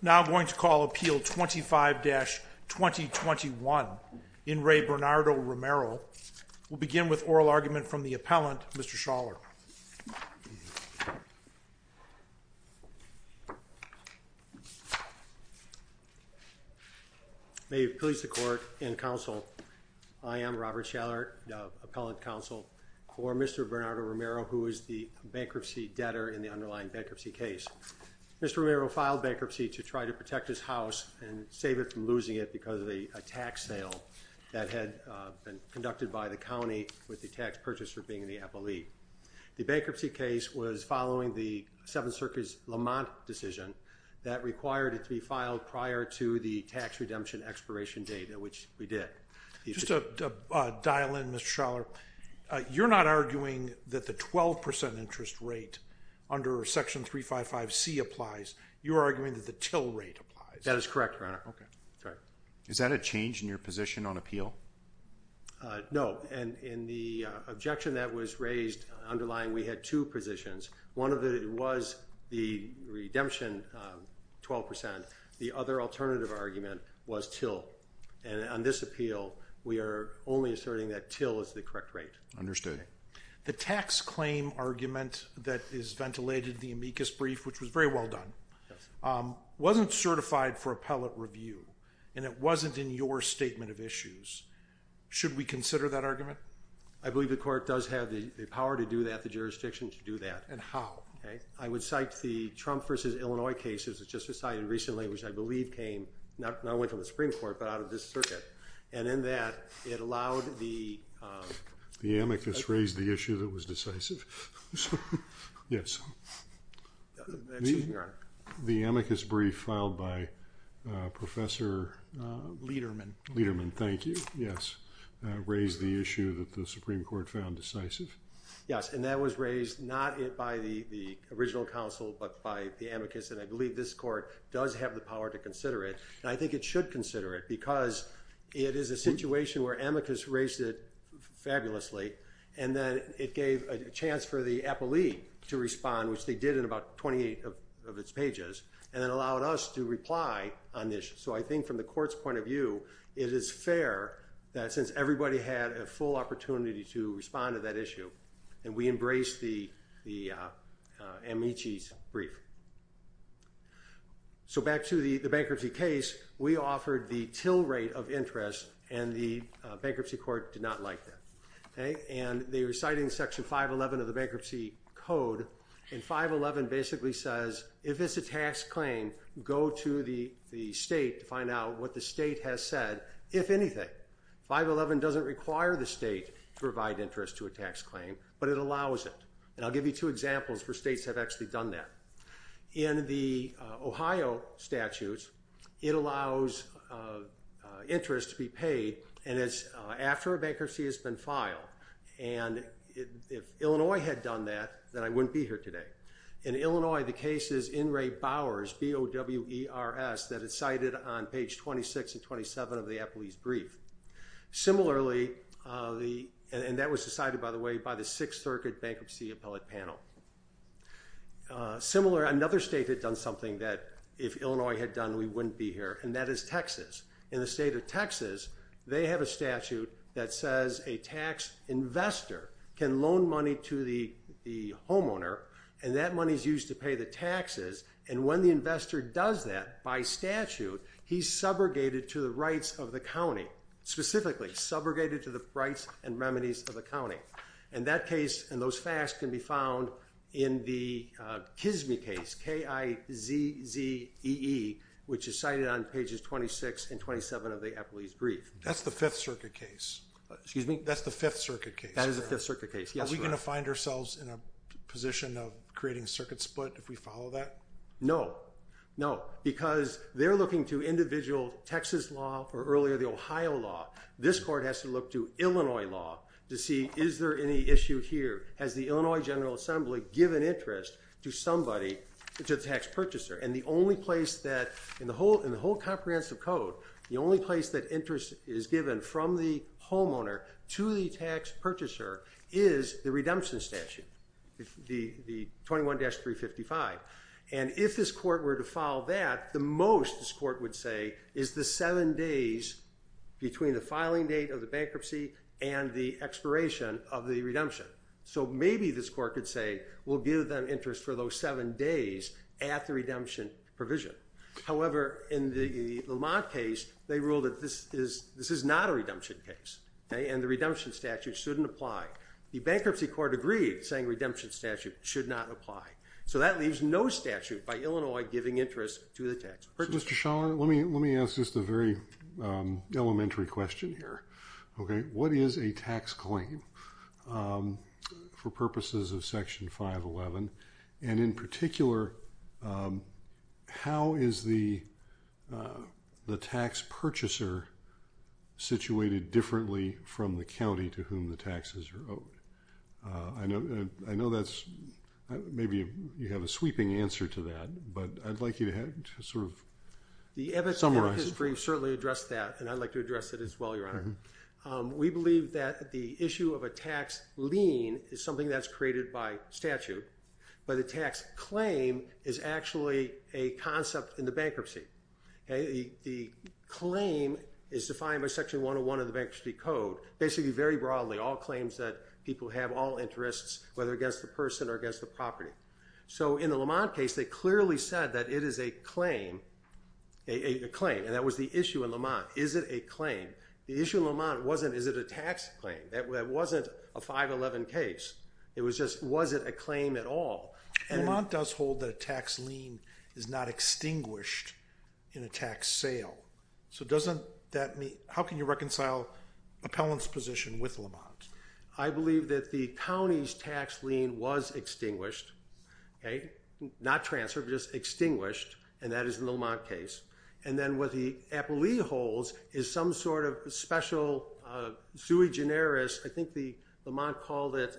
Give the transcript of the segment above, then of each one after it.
Now I'm going to call Appeal 25-2021. In re Bernardo Romero. We'll begin with oral argument from the appellant, Mr. Schaller. May it please the court and counsel, I am Robert Schaller, appellant counsel for Mr. Bernardo Romero, who is the bankruptcy debtor in the underlying bankruptcy case. Mr. Romero filed bankruptcy to try to protect his house and save it from losing it because of a tax sale that had been conducted by the county with the tax purchaser being the appellee. The bankruptcy case was following the Seventh Circuit's Lamont decision that required it to be filed prior to the tax redemption expiration date, which we did. Just to dial in, Mr. Schaller, you're not arguing that the 12% interest rate under Section 355C applies. You're arguing that the till rate applies. That is correct, Your Honor. Is that a change in your position on appeal? No. And in the objection that was raised underlying, we had two positions. One of it was the redemption 12%. The other alternative argument was till. And on this appeal, we are only asserting that till is the correct rate. Understood. The tax claim argument that is ventilated in the amicus brief, which was very well done, wasn't certified for appellate review, and it wasn't in your statement of issues. Should we consider that argument? I believe the court does have the power to do that, the jurisdiction to do that. And how? I would cite the Trump v. Illinois case, which was just decided recently, which I believe came not only from the Supreme Court, but out of this circuit. And in that, it allowed the... The amicus raised the issue that was decisive. Yes. Excuse me, Your Honor. The amicus brief filed by Professor... Lederman. Lederman, thank you. Yes. Raised the issue that the Supreme Court found decisive. Yes. And that was raised not by the original counsel, but by the amicus. And I believe this court does have the power to consider it. And I think it should consider it, because it is a situation where amicus raised it fabulously, and then it gave a chance for the appellee to respond, which they did in about 28 of its pages, and it allowed us to reply on this. So I think from the court's point of view, it is fair that since everybody had a full opportunity to respond to that issue, and we embraced the amicis brief. So back to the bankruptcy case, we offered the till rate of interest, and the bankruptcy court did not like that. And they were citing Section 511 of the Bankruptcy Code, and 511 basically says, if it's a tax claim, go to the state to find out what the state has said, if anything. 511 doesn't require the state to provide interest to a tax claim, but it allows it. And I'll give you two examples where states have actually done that. In the Ohio statutes, it allows interest to be paid, and it's after a bankruptcy has been filed. And if Illinois had done that, then I wouldn't be here today. In Illinois, the case is In re Bowers, B-O-W-E-R-S, that is cited on page 26 and 27 of the appellee's brief. Similarly, and that was decided, by the way, by the Sixth Circuit Bankruptcy Appellate Panel. Similar, another state had done something that if Illinois had done, we wouldn't be here, and that is Texas. In the state of Texas, they have a statute that says a tax investor can loan money to the homeowner, and that money is used to pay the taxes. And when the investor does that, by statute, he's subrogated to the rights of the county. Specifically, subrogated to the rights and remedies of the county. And that case and those facts can be found in the KIZME case, K-I-Z-Z-E-E, which is cited on pages 26 and 27 of the appellee's brief. That's the Fifth Circuit case. Excuse me? That's the Fifth Circuit case. That is the Fifth Circuit case. Yes, Your Honor. Are we going to find ourselves in a position of creating circuit split if we follow that? No. No. Because they're looking to individual Texas law or earlier the Ohio law, this court has to look to Illinois law to see, is there any issue here? Has the Illinois General Assembly given interest to somebody, to the tax purchaser? And the only place that, in the whole comprehensive code, the only place that interest is given from the homeowner to the tax purchaser is the redemption statute, the 21-355. And if this court were to follow that, the most this court would say is the seven days between the filing date of the bankruptcy and the expiration of the redemption. So maybe this court could say, we'll give them interest for those seven days at the redemption provision. However, in the Lamont case, they ruled that this is not a redemption case, and the redemption statute shouldn't apply. The bankruptcy court agreed, saying redemption statute should not apply. So that leaves no statute by Illinois giving interest to the tax purchaser. Mr. Schaller, let me ask just a very elementary question here. What is a tax claim for purposes of Section 511? And in particular, how is the tax purchaser situated differently from the county to whom the taxes are owed? I know that's – maybe you have a sweeping answer to that, but I'd like you to sort of summarize. The Ebbets and Perkins brief certainly addressed that, and I'd like to address it as well, Your Honor. We believe that the issue of a tax lien is something that's created by statute, but a tax claim is actually a concept in the bankruptcy. The claim is defined by Section 101 of the Bankruptcy Code. Basically, very broadly, all claims that people have all interests, whether against the person or against the property. So in the Lamont case, they clearly said that it is a claim, and that was the issue in Lamont. Is it a claim? The issue in Lamont wasn't, is it a tax claim? That wasn't a 511 case. It was just, was it a claim at all? Lamont does hold that a tax lien is not extinguished in a tax sale. So doesn't that mean – how can you reconcile appellant's position with Lamont? I believe that the county's tax lien was extinguished, not transferred, just extinguished, and that is in the Lamont case. And then what the appellee holds is some sort of special sui generis – I think Lamont called it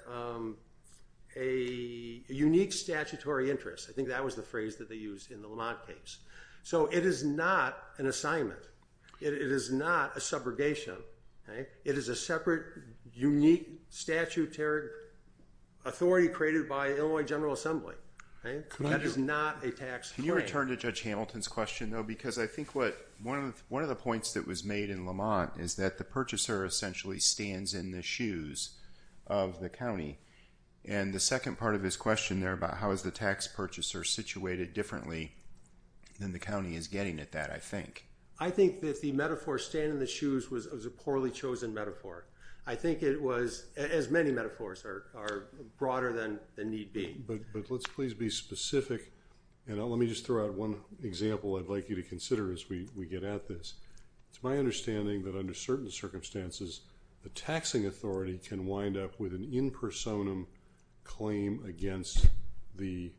a unique statutory interest. I think that was the phrase that they used in the Lamont case. So it is not an assignment. It is not a subrogation. It is a separate, unique, statutory authority created by Illinois General Assembly. That is not a tax claim. Can you return to Judge Hamilton's question, though? Because I think one of the points that was made in Lamont is that the purchaser essentially stands in the shoes of the county. And the second part of his question there about how is the tax purchaser situated differently than the county is getting at that, I think. I think that the metaphor, stand in the shoes, was a poorly chosen metaphor. I think it was, as many metaphors are, broader than need be. But let's please be specific. And let me just throw out one example I'd like you to consider as we get at this. It's my understanding that under certain circumstances, the taxing authority can wind up with an in personam claim against the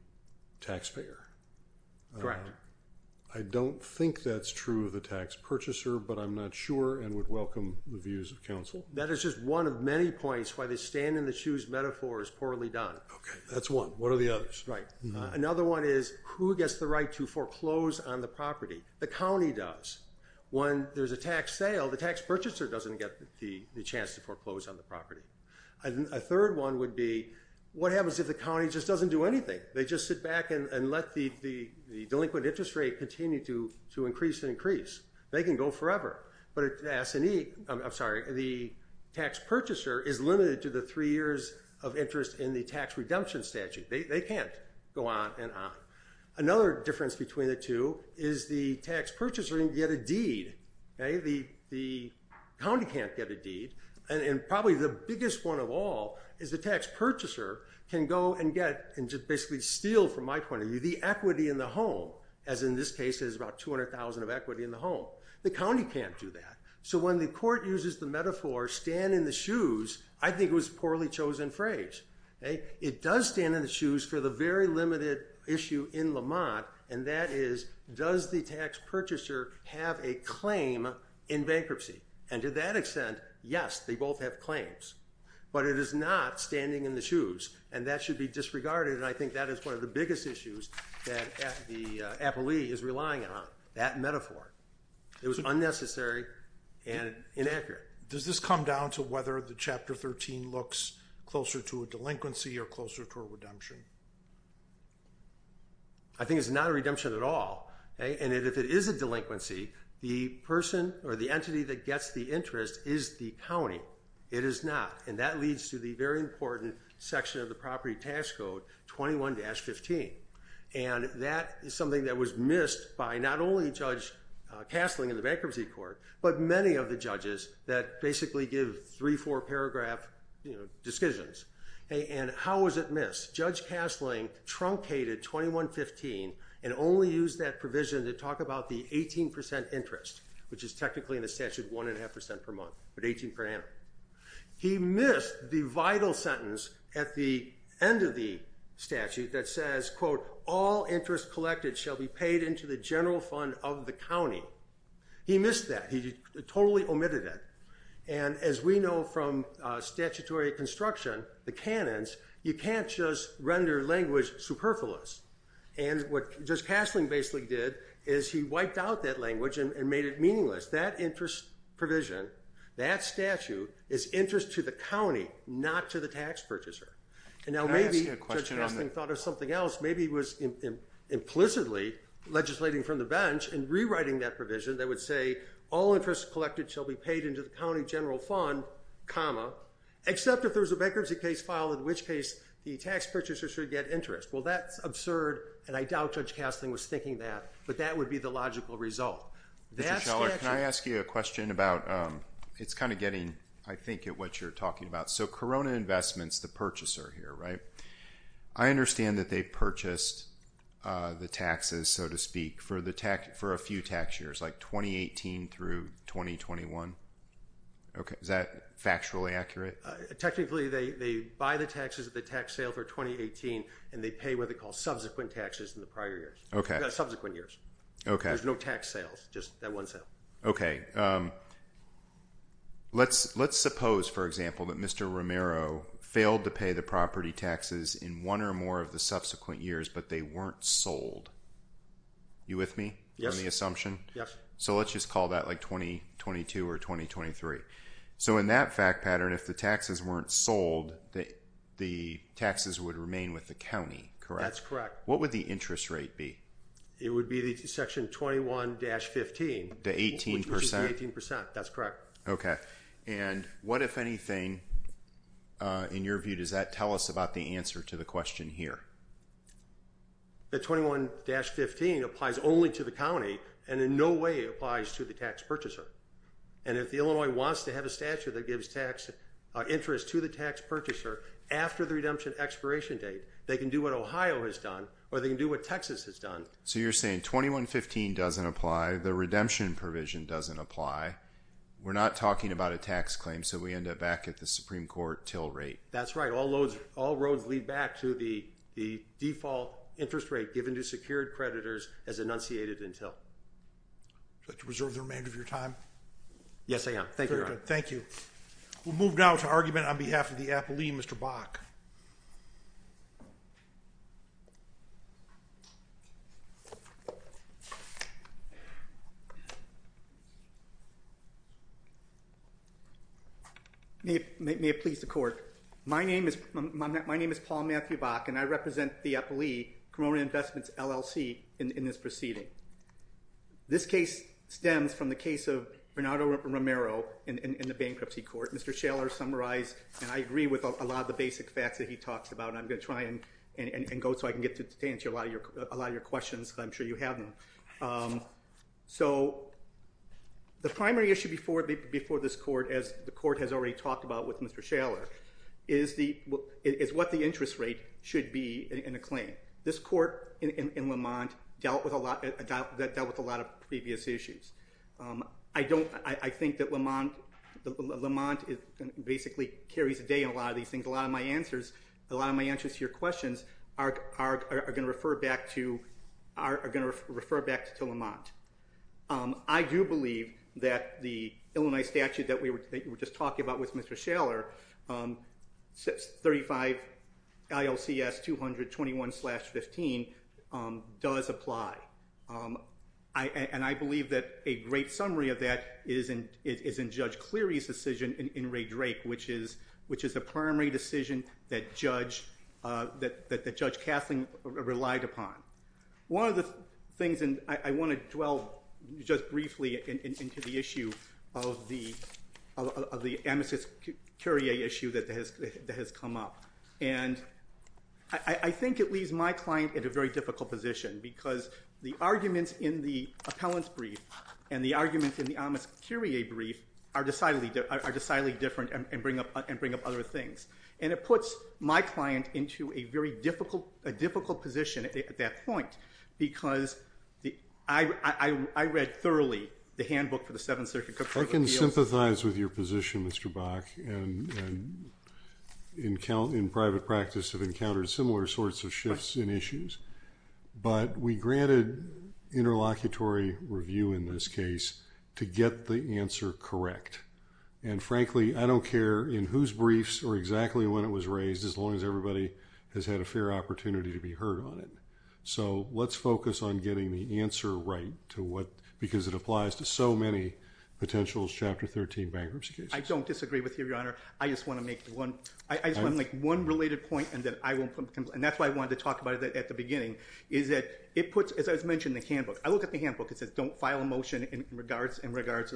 taxpayer. Correct. I don't think that's true of the tax purchaser, but I'm not sure and would welcome the views of counsel. That is just one of many points why the stand in the shoes metaphor is poorly done. Okay. That's one. What are the others? Right. Another one is who gets the right to foreclose on the property? The county does. When there's a tax sale, the tax purchaser doesn't get the chance to foreclose on the property. A third one would be what happens if the county just doesn't do anything? They just sit back and let the delinquent interest rate continue to increase and increase. They can go forever. I'm sorry. The tax purchaser is limited to the three years of interest in the tax redemption statute. They can't go on and on. Another difference between the two is the tax purchaser can get a deed. The county can't get a deed. And probably the biggest one of all is the tax purchaser can go and get and just basically steal, from my point of view, the equity in the home. As in this case, there's about $200,000 of equity in the home. The county can't do that. So when the court uses the metaphor, stand in the shoes, I think it was a poorly chosen phrase. It does stand in the shoes for the very limited issue in Lamont, and that is, does the tax purchaser have a claim in bankruptcy? And to that extent, yes, they both have claims. But it is not standing in the shoes. And that should be disregarded. And I think that is one of the biggest issues that the appellee is relying on, that metaphor. It was unnecessary and inaccurate. Does this come down to whether the Chapter 13 looks closer to a delinquency or closer to a redemption? I think it's not a redemption at all. And if it is a delinquency, the person or the entity that gets the interest is the county. It is not. And that leads to the very important section of the property tax code, 21-15. And that is something that was missed by not only Judge Castling in the bankruptcy court, but many of the judges that basically give three, four-paragraph decisions. And how was it missed? Judge Castling truncated 21-15 and only used that provision to talk about the 18% interest, which is technically in the statute 1.5% per month, but 18 per annum. He missed the vital sentence at the end of the statute that says, quote, all interest collected shall be paid into the general fund of the county. He missed that. He totally omitted it. And as we know from statutory construction, the canons, you can't just render language superfluous. And what Judge Castling basically did is he wiped out that language and made it meaningless. Because that interest provision, that statute is interest to the county, not to the tax purchaser. And now maybe Judge Castling thought of something else. Maybe he was implicitly legislating from the bench and rewriting that provision that would say, all interest collected shall be paid into the county general fund, comma, except if there's a bankruptcy case filed, in which case the tax purchaser should get interest. Well, that's absurd, and I doubt Judge Castling was thinking that. But that would be the logical result. Mr. Scheller, can I ask you a question about – it's kind of getting, I think, at what you're talking about. So Corona Investments, the purchaser here, right? I understand that they purchased the taxes, so to speak, for a few tax years, like 2018 through 2021. Is that factually accurate? Technically, they buy the taxes at the tax sale for 2018, and they pay what they call subsequent taxes in the prior years. Okay. Subsequent years. Okay. There's no tax sales, just that one sale. Okay. Let's suppose, for example, that Mr. Romero failed to pay the property taxes in one or more of the subsequent years, but they weren't sold. Are you with me on the assumption? Yes. So let's just call that like 2022 or 2023. So in that fact pattern, if the taxes weren't sold, the taxes would remain with the county, correct? That's correct. What would the interest rate be? It would be the section 21-15. The 18%? That's correct. Okay. And what, if anything, in your view, does that tell us about the answer to the question here? The 21-15 applies only to the county, and in no way applies to the tax purchaser. And if the Illinois wants to have a statute that gives interest to the tax purchaser after the redemption expiration date, they can do what Ohio has done, or they can do what Texas has done. So you're saying 21-15 doesn't apply, the redemption provision doesn't apply, we're not talking about a tax claim, so we end up back at the Supreme Court till rate. That's right. All roads lead back to the default interest rate given to secured creditors as enunciated in till. Would you like to reserve the remainder of your time? Yes, I am. Thank you, Your Honor. Thank you. We'll move now to argument on behalf of the appellee, Mr. Bach. May it please the Court. My name is Paul Matthew Bach, and I represent the appellee, Cremona Investments, LLC, in this proceeding. This case stems from the case of Bernardo Romero in the bankruptcy court. Mr. Schaller summarized, and I agree with a lot of the basic facts that he talks about, and I'm going to try and go so I can get to answer a lot of your questions that I'm sure you haven't. So the primary issue before this court, as the court has already talked about with Mr. Schaller, is what the interest rate should be in a claim. This court in Lamont dealt with a lot of previous issues. I think that Lamont basically carries a day in a lot of these things. A lot of my answers to your questions are going to refer back to Lamont. I do believe that the Illinois statute that you were just talking about with Mr. Schaller, 35 ILCS 200-21-15, does apply. And I believe that a great summary of that is in Judge Cleary's decision in Ray Drake, which is a primary decision that Judge Kathleen relied upon. One of the things, and I want to dwell just briefly into the issue of the amicus curiae issue that has come up. And I think it leaves my client in a very difficult position, because the arguments in the appellant's brief and the arguments in the amicus curiae brief are decidedly different and bring up other things. And it puts my client into a very difficult position at that point, because I read thoroughly the handbook for the Seventh Circuit Court of Appeals. I can sympathize with your position, Mr. Bach, and in private practice have encountered similar sorts of shifts in issues. But we granted interlocutory review in this case to get the answer correct. And frankly, I don't care in whose briefs or exactly when it was raised, as long as everybody has had a fair opportunity to be heard on it. So let's focus on getting the answer right, because it applies to so many potential Chapter 13 bankruptcy cases. I don't disagree with you, Your Honor. I just want to make one related point, and that's why I wanted to talk about it at the beginning, is that it puts, as I mentioned in the handbook, I look at the handbook, it says don't file a motion in regards to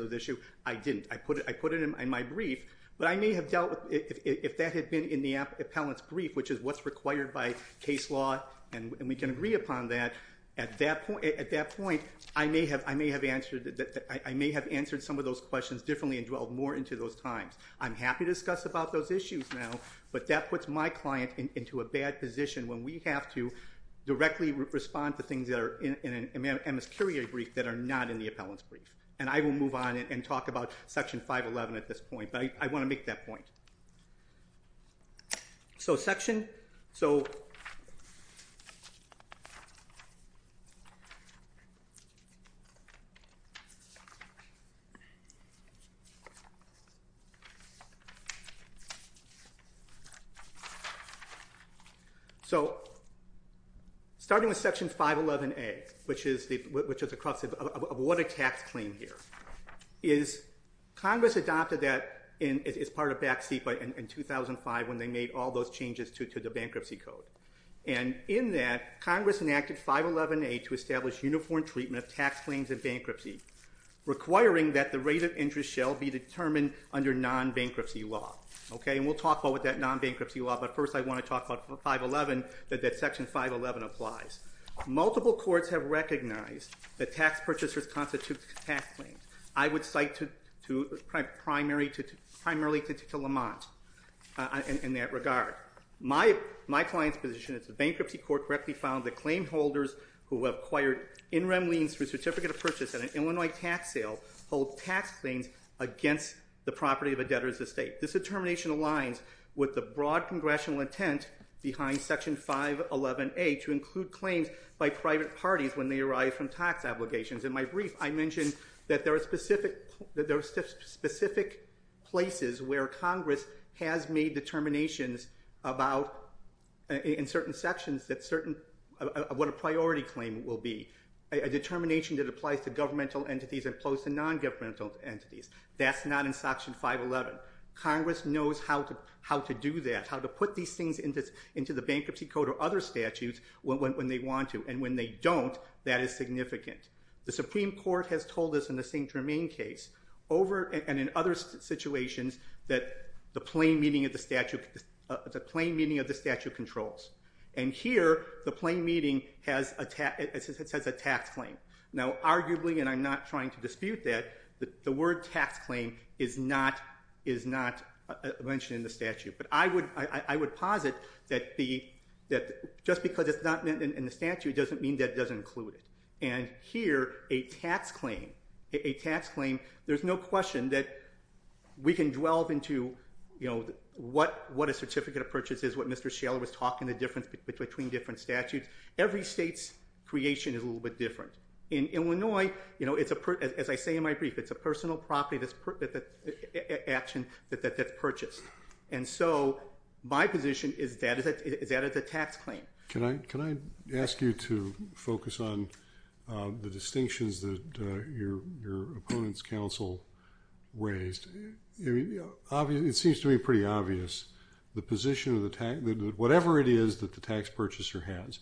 the issue. I didn't. I put it in my brief, but I may have dealt with, if that had been in the appellant's brief, which is what's required by case law, and we can agree upon that, at that point I may have answered some of those questions differently and dwelled more into those times. I'm happy to discuss about those issues now, but that puts my client into a bad position when we have to directly respond to things that are in an MS Curie brief that are not in the appellant's brief. And I will move on and talk about Section 511 at this point, but I want to make that point. So starting with Section 511A, which is the crux of what a tax claim here is, Congress adopted that as part of back seat in 2005 when they made all those changes to the bankruptcy code. And in that, Congress enacted 511A to establish uniform treatment of tax claims in bankruptcy, requiring that the rate of interest shall be determined under non-bankruptcy law. And we'll talk about that non-bankruptcy law, but first I want to talk about 511, that that Section 511 applies. Multiple courts have recognized that tax purchasers constitute tax claims. I would cite primarily to Lamont in that regard. My client's position is the bankruptcy court correctly found that claim holders who have acquired in rem liens for certificate of purchase at an Illinois tax sale hold tax claims against the property of a debtor's estate. This determination aligns with the broad congressional intent behind Section 511A to include claims by private parties when they arise from tax obligations. In my brief, I mentioned that there are specific places where Congress has made determinations about, in certain sections, what a priority claim will be, a determination that applies to governmental entities as opposed to non-governmental entities. That's not in Section 511. Congress knows how to do that, how to put these things into the bankruptcy code or other statutes when they want to, and when they don't, that is significant. The Supreme Court has told us in the St. Germain case, and in other situations, that the plain meaning of the statute controls. And here, the plain meaning has a tax claim. Now, arguably, and I'm not trying to dispute that, the word tax claim is not mentioned in the statute. But I would posit that just because it's not in the statute doesn't mean that it doesn't include it. And here, a tax claim, a tax claim, there's no question that we can dwell into, you know, what a certificate of purchase is, what Mr. Shaler was talking, the difference between different statutes. Every state's creation is a little bit different. In Illinois, you know, as I say in my brief, it's a personal property that's purchased. And so my position is that it's a tax claim. Can I ask you to focus on the distinctions that your opponent's counsel raised? It seems to me pretty obvious. The position of the tax, whatever it is that the tax purchaser has,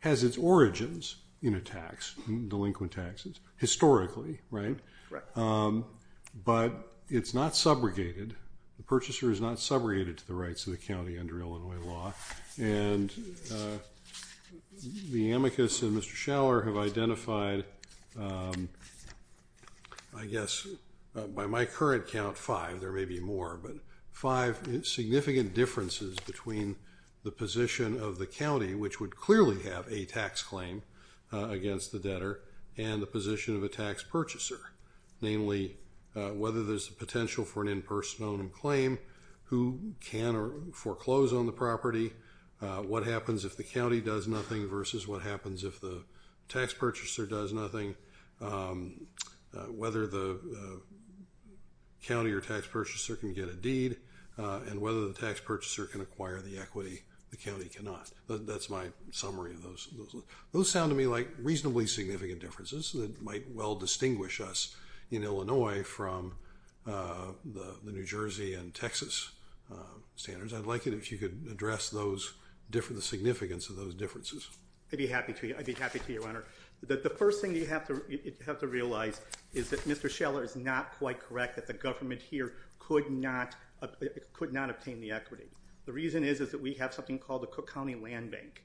has its origins in a tax, delinquent taxes, historically, right? Right. But it's not subrogated. The purchaser is not subrogated to the rights of the county under Illinois law. And the amicus and Mr. Shaler have identified, I guess, by my current count, five. There may be more, but five significant differences between the position of the county, which would clearly have a tax claim against the debtor, and the position of a tax purchaser, namely whether there's a potential for an impersonal claim, who can foreclose on the property, what happens if the county does nothing versus what happens if the tax purchaser does nothing, whether the county or tax purchaser can get a deed, and whether the tax purchaser can acquire the equity the county cannot. That's my summary of those. Those sound to me like reasonably significant differences that might well distinguish us in Illinois from the New Jersey and Texas standards. I'd like it if you could address the significance of those differences. I'd be happy to. I'd be happy to, Your Honor. The first thing you have to realize is that Mr. Shaler is not quite correct, that the government here could not obtain the equity. The reason is that we have something called the Cook County Land Bank.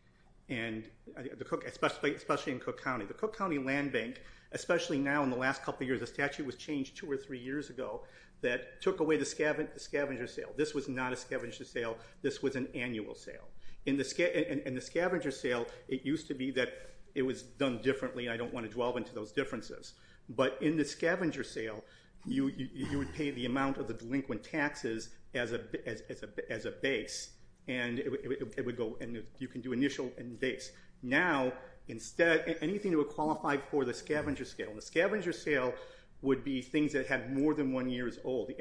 Especially in Cook County. The Cook County Land Bank, especially now in the last couple of years, a statute was changed two or three years ago that took away the scavenger sale. This was not a scavenger sale. This was an annual sale. In the scavenger sale, it used to be that it was done differently, and I don't want to dwell into those differences. But in the scavenger sale, you would pay the amount of the delinquent taxes as a base, and you can do initial and base. Now, anything that would qualify for the scavenger sale. The scavenger sale would be things that have more than one year's old. At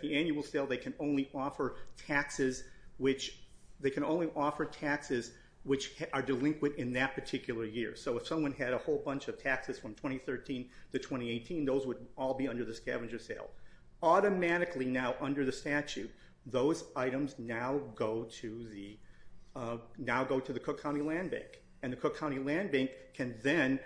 the annual sale, they can only offer taxes which are delinquent in that particular year. So if someone had a whole bunch of taxes from 2013 to 2018, those would all be under the scavenger sale. Automatically now under the statute, those items now go to the Cook County Land Bank, and the Cook County Land Bank can then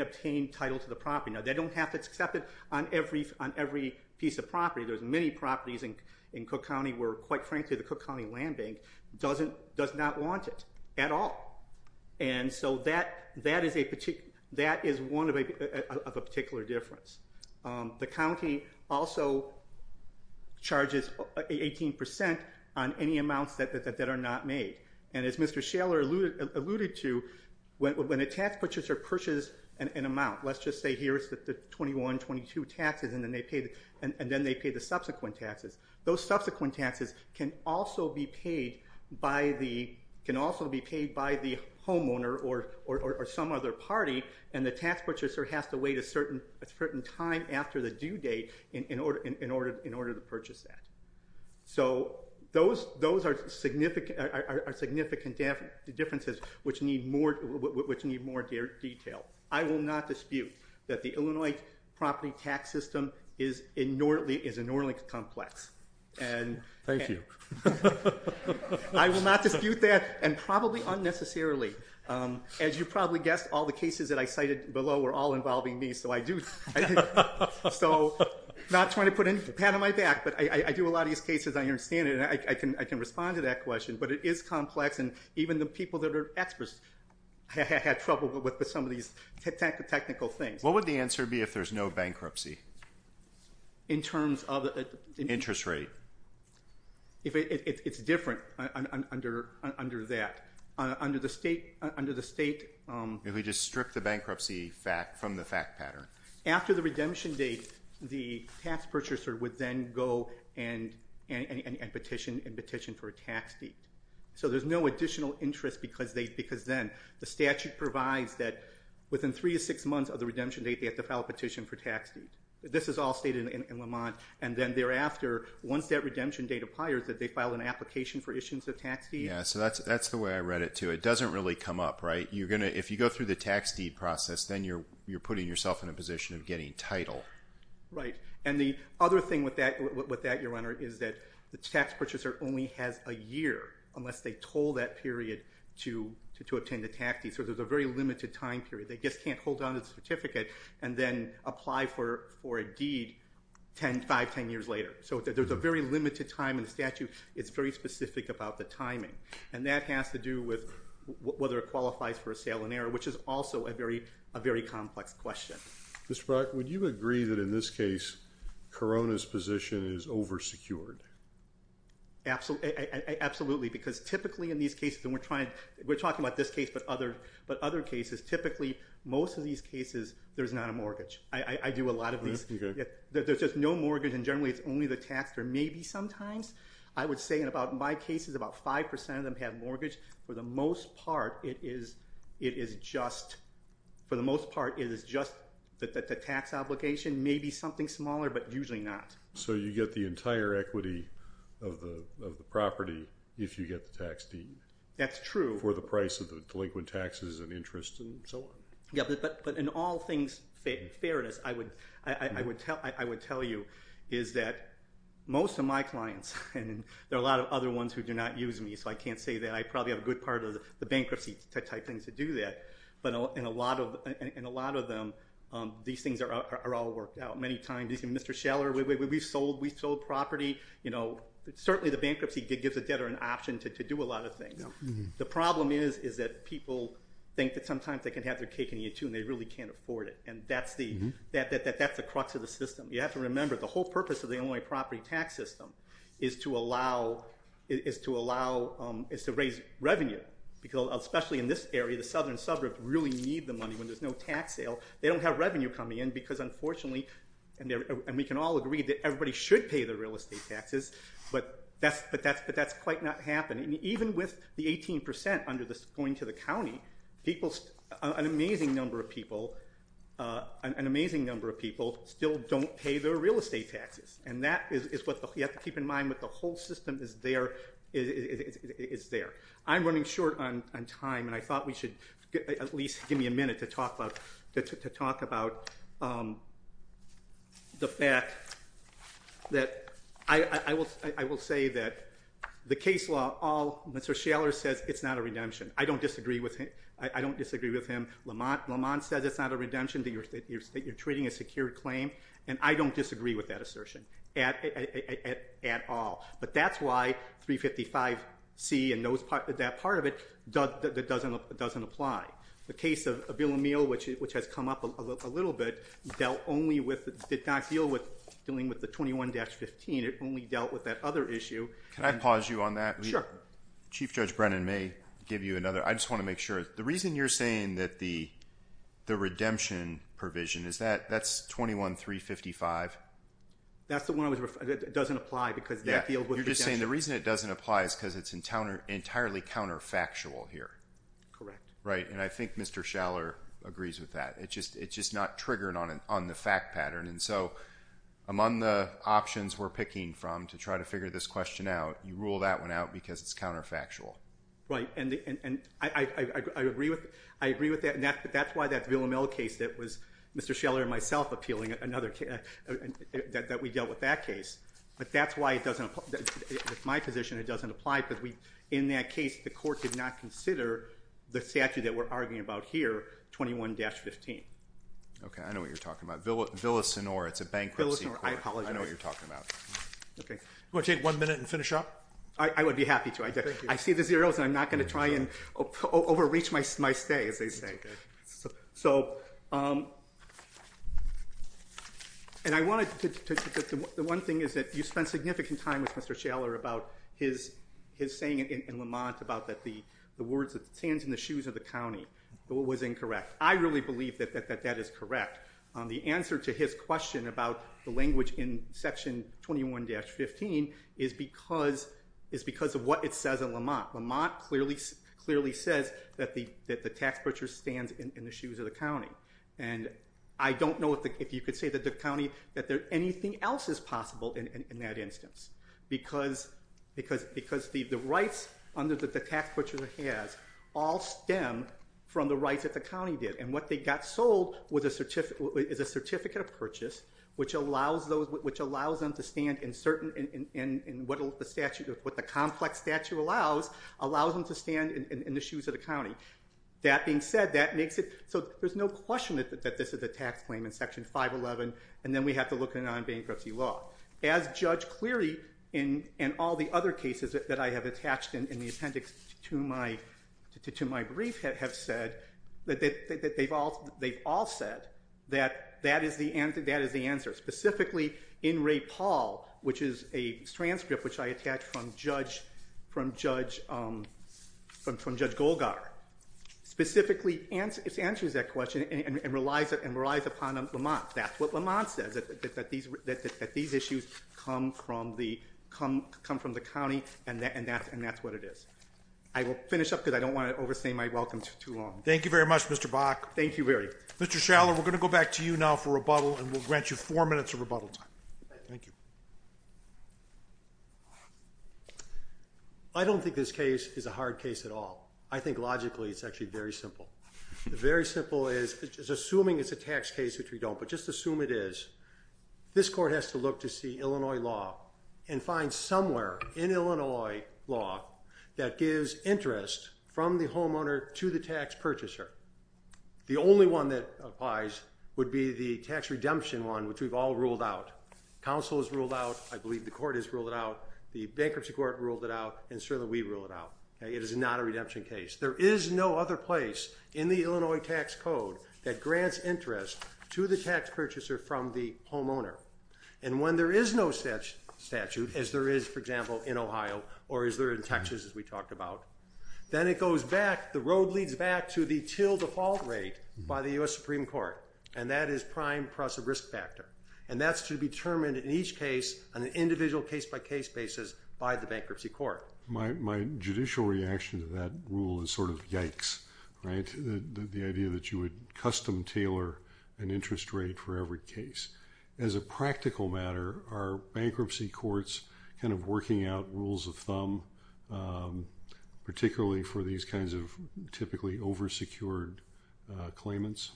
obtain title to the property. Now, they don't have to accept it on every piece of property. There's many properties in Cook County where, quite frankly, the Cook County Land Bank does not want it at all. And so that is one of a particular difference. The county also charges 18% on any amounts that are not made. And as Mr. Schaller alluded to, when a tax purchaser purchases an amount, let's just say here is the 21, 22 taxes, and then they pay the subsequent taxes, those subsequent taxes can also be paid by the homeowner or some other party, and the tax purchaser has to wait a certain time after the due date in order to purchase that. So those are significant differences which need more detail. I will not dispute that the Illinois property tax system is inordinately complex. Thank you. I will not dispute that, and probably unnecessarily. As you probably guessed, all the cases that I cited below were all involving me, so not trying to put a pat on my back, but I do a lot of these cases, I understand it, and I can respond to that question, but it is complex, and even the people that are experts had trouble with some of these technical things. What would the answer be if there's no bankruptcy? In terms of? Interest rate. It's different under that. Under the state. If we just strip the bankruptcy from the fact pattern. After the redemption date, the tax purchaser would then go and petition for a tax deed. So there's no additional interest because then the statute provides that within three to six months of the redemption date, they have to file a petition for tax deed. This is all stated in Lamont, and then thereafter, once that redemption date applies, that they file an application for issuance of tax deed. Yeah, so that's the way I read it, too. It doesn't really come up, right? If you go through the tax deed process, then you're putting yourself in a position of getting title. Right, and the other thing with that, Your Honor, is that the tax purchaser only has a year unless they told that period to obtain the tax deed. So there's a very limited time period. They just can't hold on to the certificate and then apply for a deed five, ten years later. So there's a very limited time in the statute. It's very specific about the timing, and that has to do with whether it qualifies for a sale in error, which is also a very complex question. Mr. Brock, would you agree that in this case, Corona's position is over-secured? Absolutely, because typically in these cases, and we're talking about this case but other cases, typically most of these cases, there's not a mortgage. I do a lot of these. There's just no mortgage, and generally it's only the tax. There may be sometimes. I would say in about my cases, about 5% of them have mortgage. For the most part, it is just that the tax obligation may be something smaller but usually not. So you get the entire equity of the property if you get the tax deed. That's true. For the price of the delinquent taxes and interest and so on. Yeah, but in all things fairness, I would tell you is that most of my clients, and there are a lot of other ones who do not use me, so I can't say that. I probably have a good part of the bankruptcy type things to do that. But in a lot of them, these things are all worked out. Many times, Mr. Scheller, we've sold property. Certainly the bankruptcy gives the debtor an option to do a lot of things. The problem is that people think that sometimes they can have their cake and eat it too, and they really can't afford it, and that's the crux of the system. You have to remember the whole purpose of the Illinois property tax system is to raise revenue. Especially in this area, the southern suburbs really need the money when there's no tax sale. They don't have revenue coming in because unfortunately, and we can all agree that everybody should pay their real estate taxes, but that's quite not happening. Even with the 18% going to the county, an amazing number of people still don't pay their real estate taxes, and that is what you have to keep in mind that the whole system is there. I'm running short on time, and I thought we should at least give me a minute to talk about the fact that I will say that the case law, Mr. Scheller says it's not a redemption. I don't disagree with him. Lamont says it's not a redemption, that you're treating a secured claim, and I don't disagree with that assertion at all. But that's why 355C and that part of it doesn't apply. The case of Abilamil, which has come up a little bit, did not deal with dealing with the 21-15. It only dealt with that other issue. Can I pause you on that? Chief Judge Brennan may give you another. I just want to make sure. The reason you're saying that the redemption provision, that's 21-355? That's the one that doesn't apply because that deals with redemption. You're just saying the reason it doesn't apply is because it's entirely counterfactual here. Correct. Right, and I think Mr. Scheller agrees with that. It's just not triggered on the fact pattern, and so among the options we're picking from to try to figure this question out, you rule that one out because it's counterfactual. Right, and I agree with that, and that's why that Abilamil case that was Mr. Scheller and myself appealing, that we dealt with that case, but that's why it doesn't apply. In my position, it doesn't apply because in that case, the court did not consider the statute that we're arguing about here, 21-15. Okay, I know what you're talking about. Villasenor, it's a bankruptcy court. Villasenor, I apologize. I know what you're talking about. Okay. Do you want to take one minute and finish up? I would be happy to. I see the zeros, and I'm not going to try and overreach my stay, as they say. So, and I wanted to, the one thing is that you spent significant time with Mr. Scheller about his saying in Lamont about that the words that stands in the shoes of the county was incorrect. I really believe that that is correct. The answer to his question about the language in section 21-15 is because of what it says in Lamont. Lamont clearly says that the tax breacher stands in the shoes of the county, and I don't know if you could say that the county, that anything else is possible in that instance because the rights that the tax breacher has all stem from the rights that the county did, and what they got sold is a certificate of purchase, which allows them to stand in certain, what the complex statute allows, allows them to stand in the shoes of the county. That being said, that makes it, so there's no question that this is a tax claim in section 511, and then we have to look at it on bankruptcy law. As Judge Cleary and all the other cases that I have attached in the appendix to my brief have said, they've all said that that is the answer, specifically in Ray Paul, which is a transcript which I attached from Judge Golgar, specifically answers that question and relies upon Lamont. That's what Lamont says, that these issues come from the county, and that's what it is. I will finish up because I don't want to overstay my welcome too long. Thank you very much, Mr. Bach. Thank you very much. Mr. Schaller, we're going to go back to you now for rebuttal, and we'll grant you four minutes of rebuttal time. Thank you. I don't think this case is a hard case at all. I think logically it's actually very simple. The very simple is, assuming it's a tax case, which we don't, but just assume it is, this court has to look to see Illinois law and find somewhere in Illinois law that gives interest from the homeowner to the tax purchaser. The only one that applies would be the tax redemption one, which we've all ruled out. Council has ruled out. I believe the court has ruled it out. The bankruptcy court ruled it out, and certainly we ruled it out. It is not a redemption case. There is no other place in the Illinois tax code that grants interest to the tax purchaser from the homeowner. And when there is no such statute, as there is, for example, in Ohio or as there is in Texas, as we talked about, then it goes back, the road leads back to the till default rate by the U.S. Supreme Court, and that is prime plus a risk factor. And that's to be determined in each case on an individual case-by-case basis by the bankruptcy court. My judicial reaction to that rule is sort of yikes, right, the idea that you would custom tailor an interest rate for every case. As a practical matter, are bankruptcy courts kind of working out rules of thumb, particularly for these kinds of typically over-secured claimants?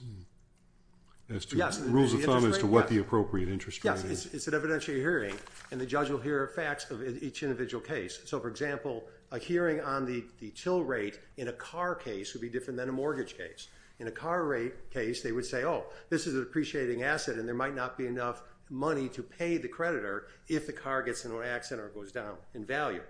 Rules of thumb as to what the appropriate interest rate is. Yes, it's an evidentiary hearing, and the judge will hear facts of each individual case. So, for example, a hearing on the till rate in a car case would be different than a mortgage case. In a car rate case, they would say, oh, this is an appreciating asset and there might not be enough money to pay the creditor if the car gets in an accident or goes down in value.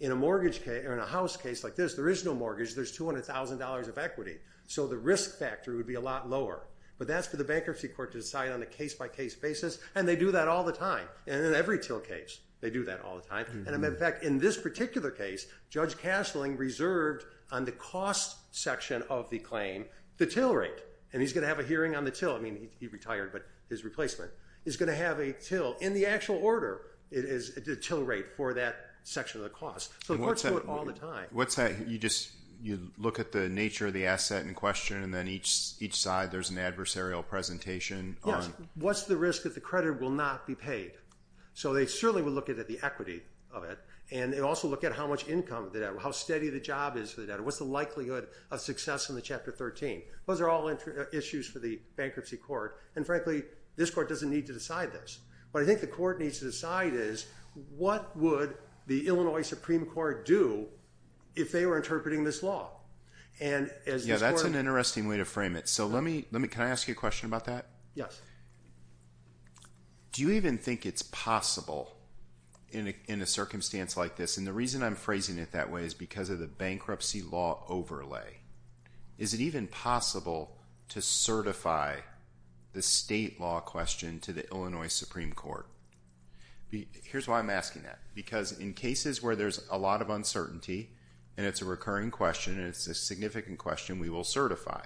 In a house case like this, there is no mortgage, there's $200,000 of equity. So the risk factor would be a lot lower. But that's for the bankruptcy court to decide on a case-by-case basis, and they do that all the time. And in every till case, they do that all the time. And, in fact, in this particular case, Judge Castling reserved on the cost section of the claim the till rate. And he's going to have a hearing on the till. I mean, he retired, but his replacement. He's going to have a till. In the actual order, it is a till rate for that section of the cost. So the courts do it all the time. You just look at the nature of the asset in question, and then each side there's an adversarial presentation. Yes. What's the risk that the creditor will not be paid? So they certainly will look at the equity of it, and they also look at how much income, how steady the job is. What's the likelihood of success in the Chapter 13? Those are all issues for the bankruptcy court. And, frankly, this court doesn't need to decide this. What I think the court needs to decide is, what would the Illinois Supreme Court do if they were interpreting this law? Yeah, that's an interesting way to frame it. Can I ask you a question about that? Yes. Do you even think it's possible in a circumstance like this? And the reason I'm phrasing it that way is because of the bankruptcy law overlay. Is it even possible to certify the state law question to the Illinois Supreme Court? Here's why I'm asking that. Because in cases where there's a lot of uncertainty, and it's a recurring question, and it's a significant question, we will certify.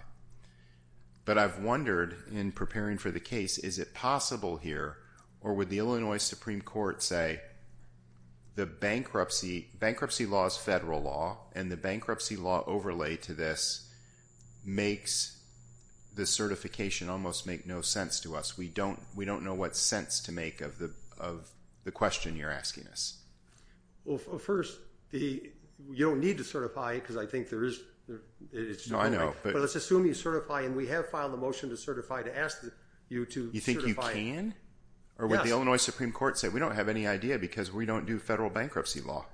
But I've wondered, in preparing for the case, is it possible here, or would the Illinois Supreme Court say the bankruptcy law is federal law, and the bankruptcy law overlay to this makes the certification almost make no sense to us? We don't know what sense to make of the question you're asking us. Well, first, you don't need to certify it because I think there is. No, I know. But let's assume you certify, and we have filed a motion to certify to ask you to certify. You think you can? Yes. Or would the Illinois Supreme Court say, we don't have any idea because we don't do federal bankruptcy law?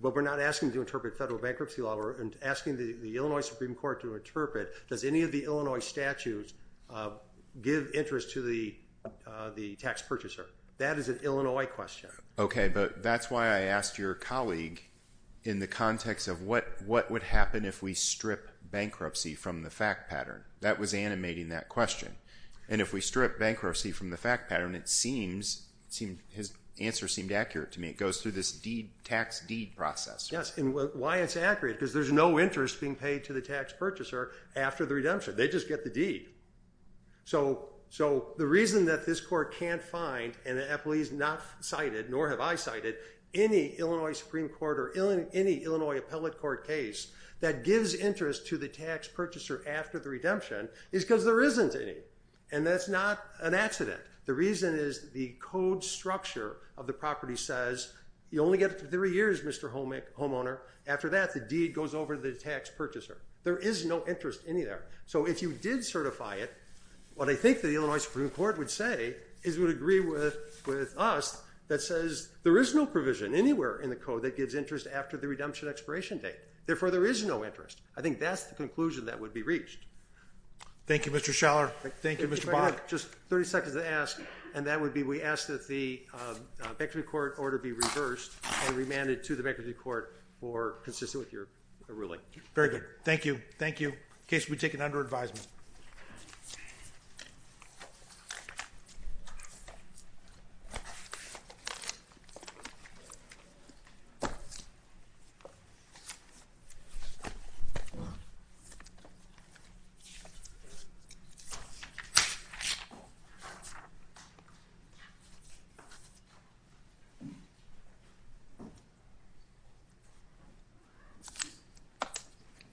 Well, we're not asking to interpret federal bankruptcy law. We're asking the Illinois Supreme Court to interpret, does any of the Illinois statutes give interest to the tax purchaser? That is an Illinois question. Okay, but that's why I asked your colleague in the context of what would happen if we strip bankruptcy from the fact pattern. That was animating that question. And if we strip bankruptcy from the fact pattern, his answer seemed accurate to me. It goes through this tax deed process. Yes, and why it's accurate is because there's no interest being paid to the tax purchaser after the redemption. They just get the deed. So the reason that this court can't find, and the appellees not cited, nor have I cited, any Illinois Supreme Court or any Illinois appellate court case that gives interest to the tax purchaser after the redemption is because there isn't any. And that's not an accident. The reason is the code structure of the property says, you only get it for three years, Mr. Homeowner. After that, the deed goes over to the tax purchaser. There is no interest in there. So if you did certify it, what I think the Illinois Supreme Court would say is it would agree with us that says there is no provision anywhere in the code that gives interest after the redemption expiration date. Therefore, there is no interest. I think that's the conclusion that would be reached. Thank you, Mr. Schaller. Thank you, Mr. Bach. Just 30 seconds to ask, and that would be we ask that the bankruptcy court order be reversed and remanded to the bankruptcy court for consistent with your ruling. Very good. Thank you. The case will be taken under advisement.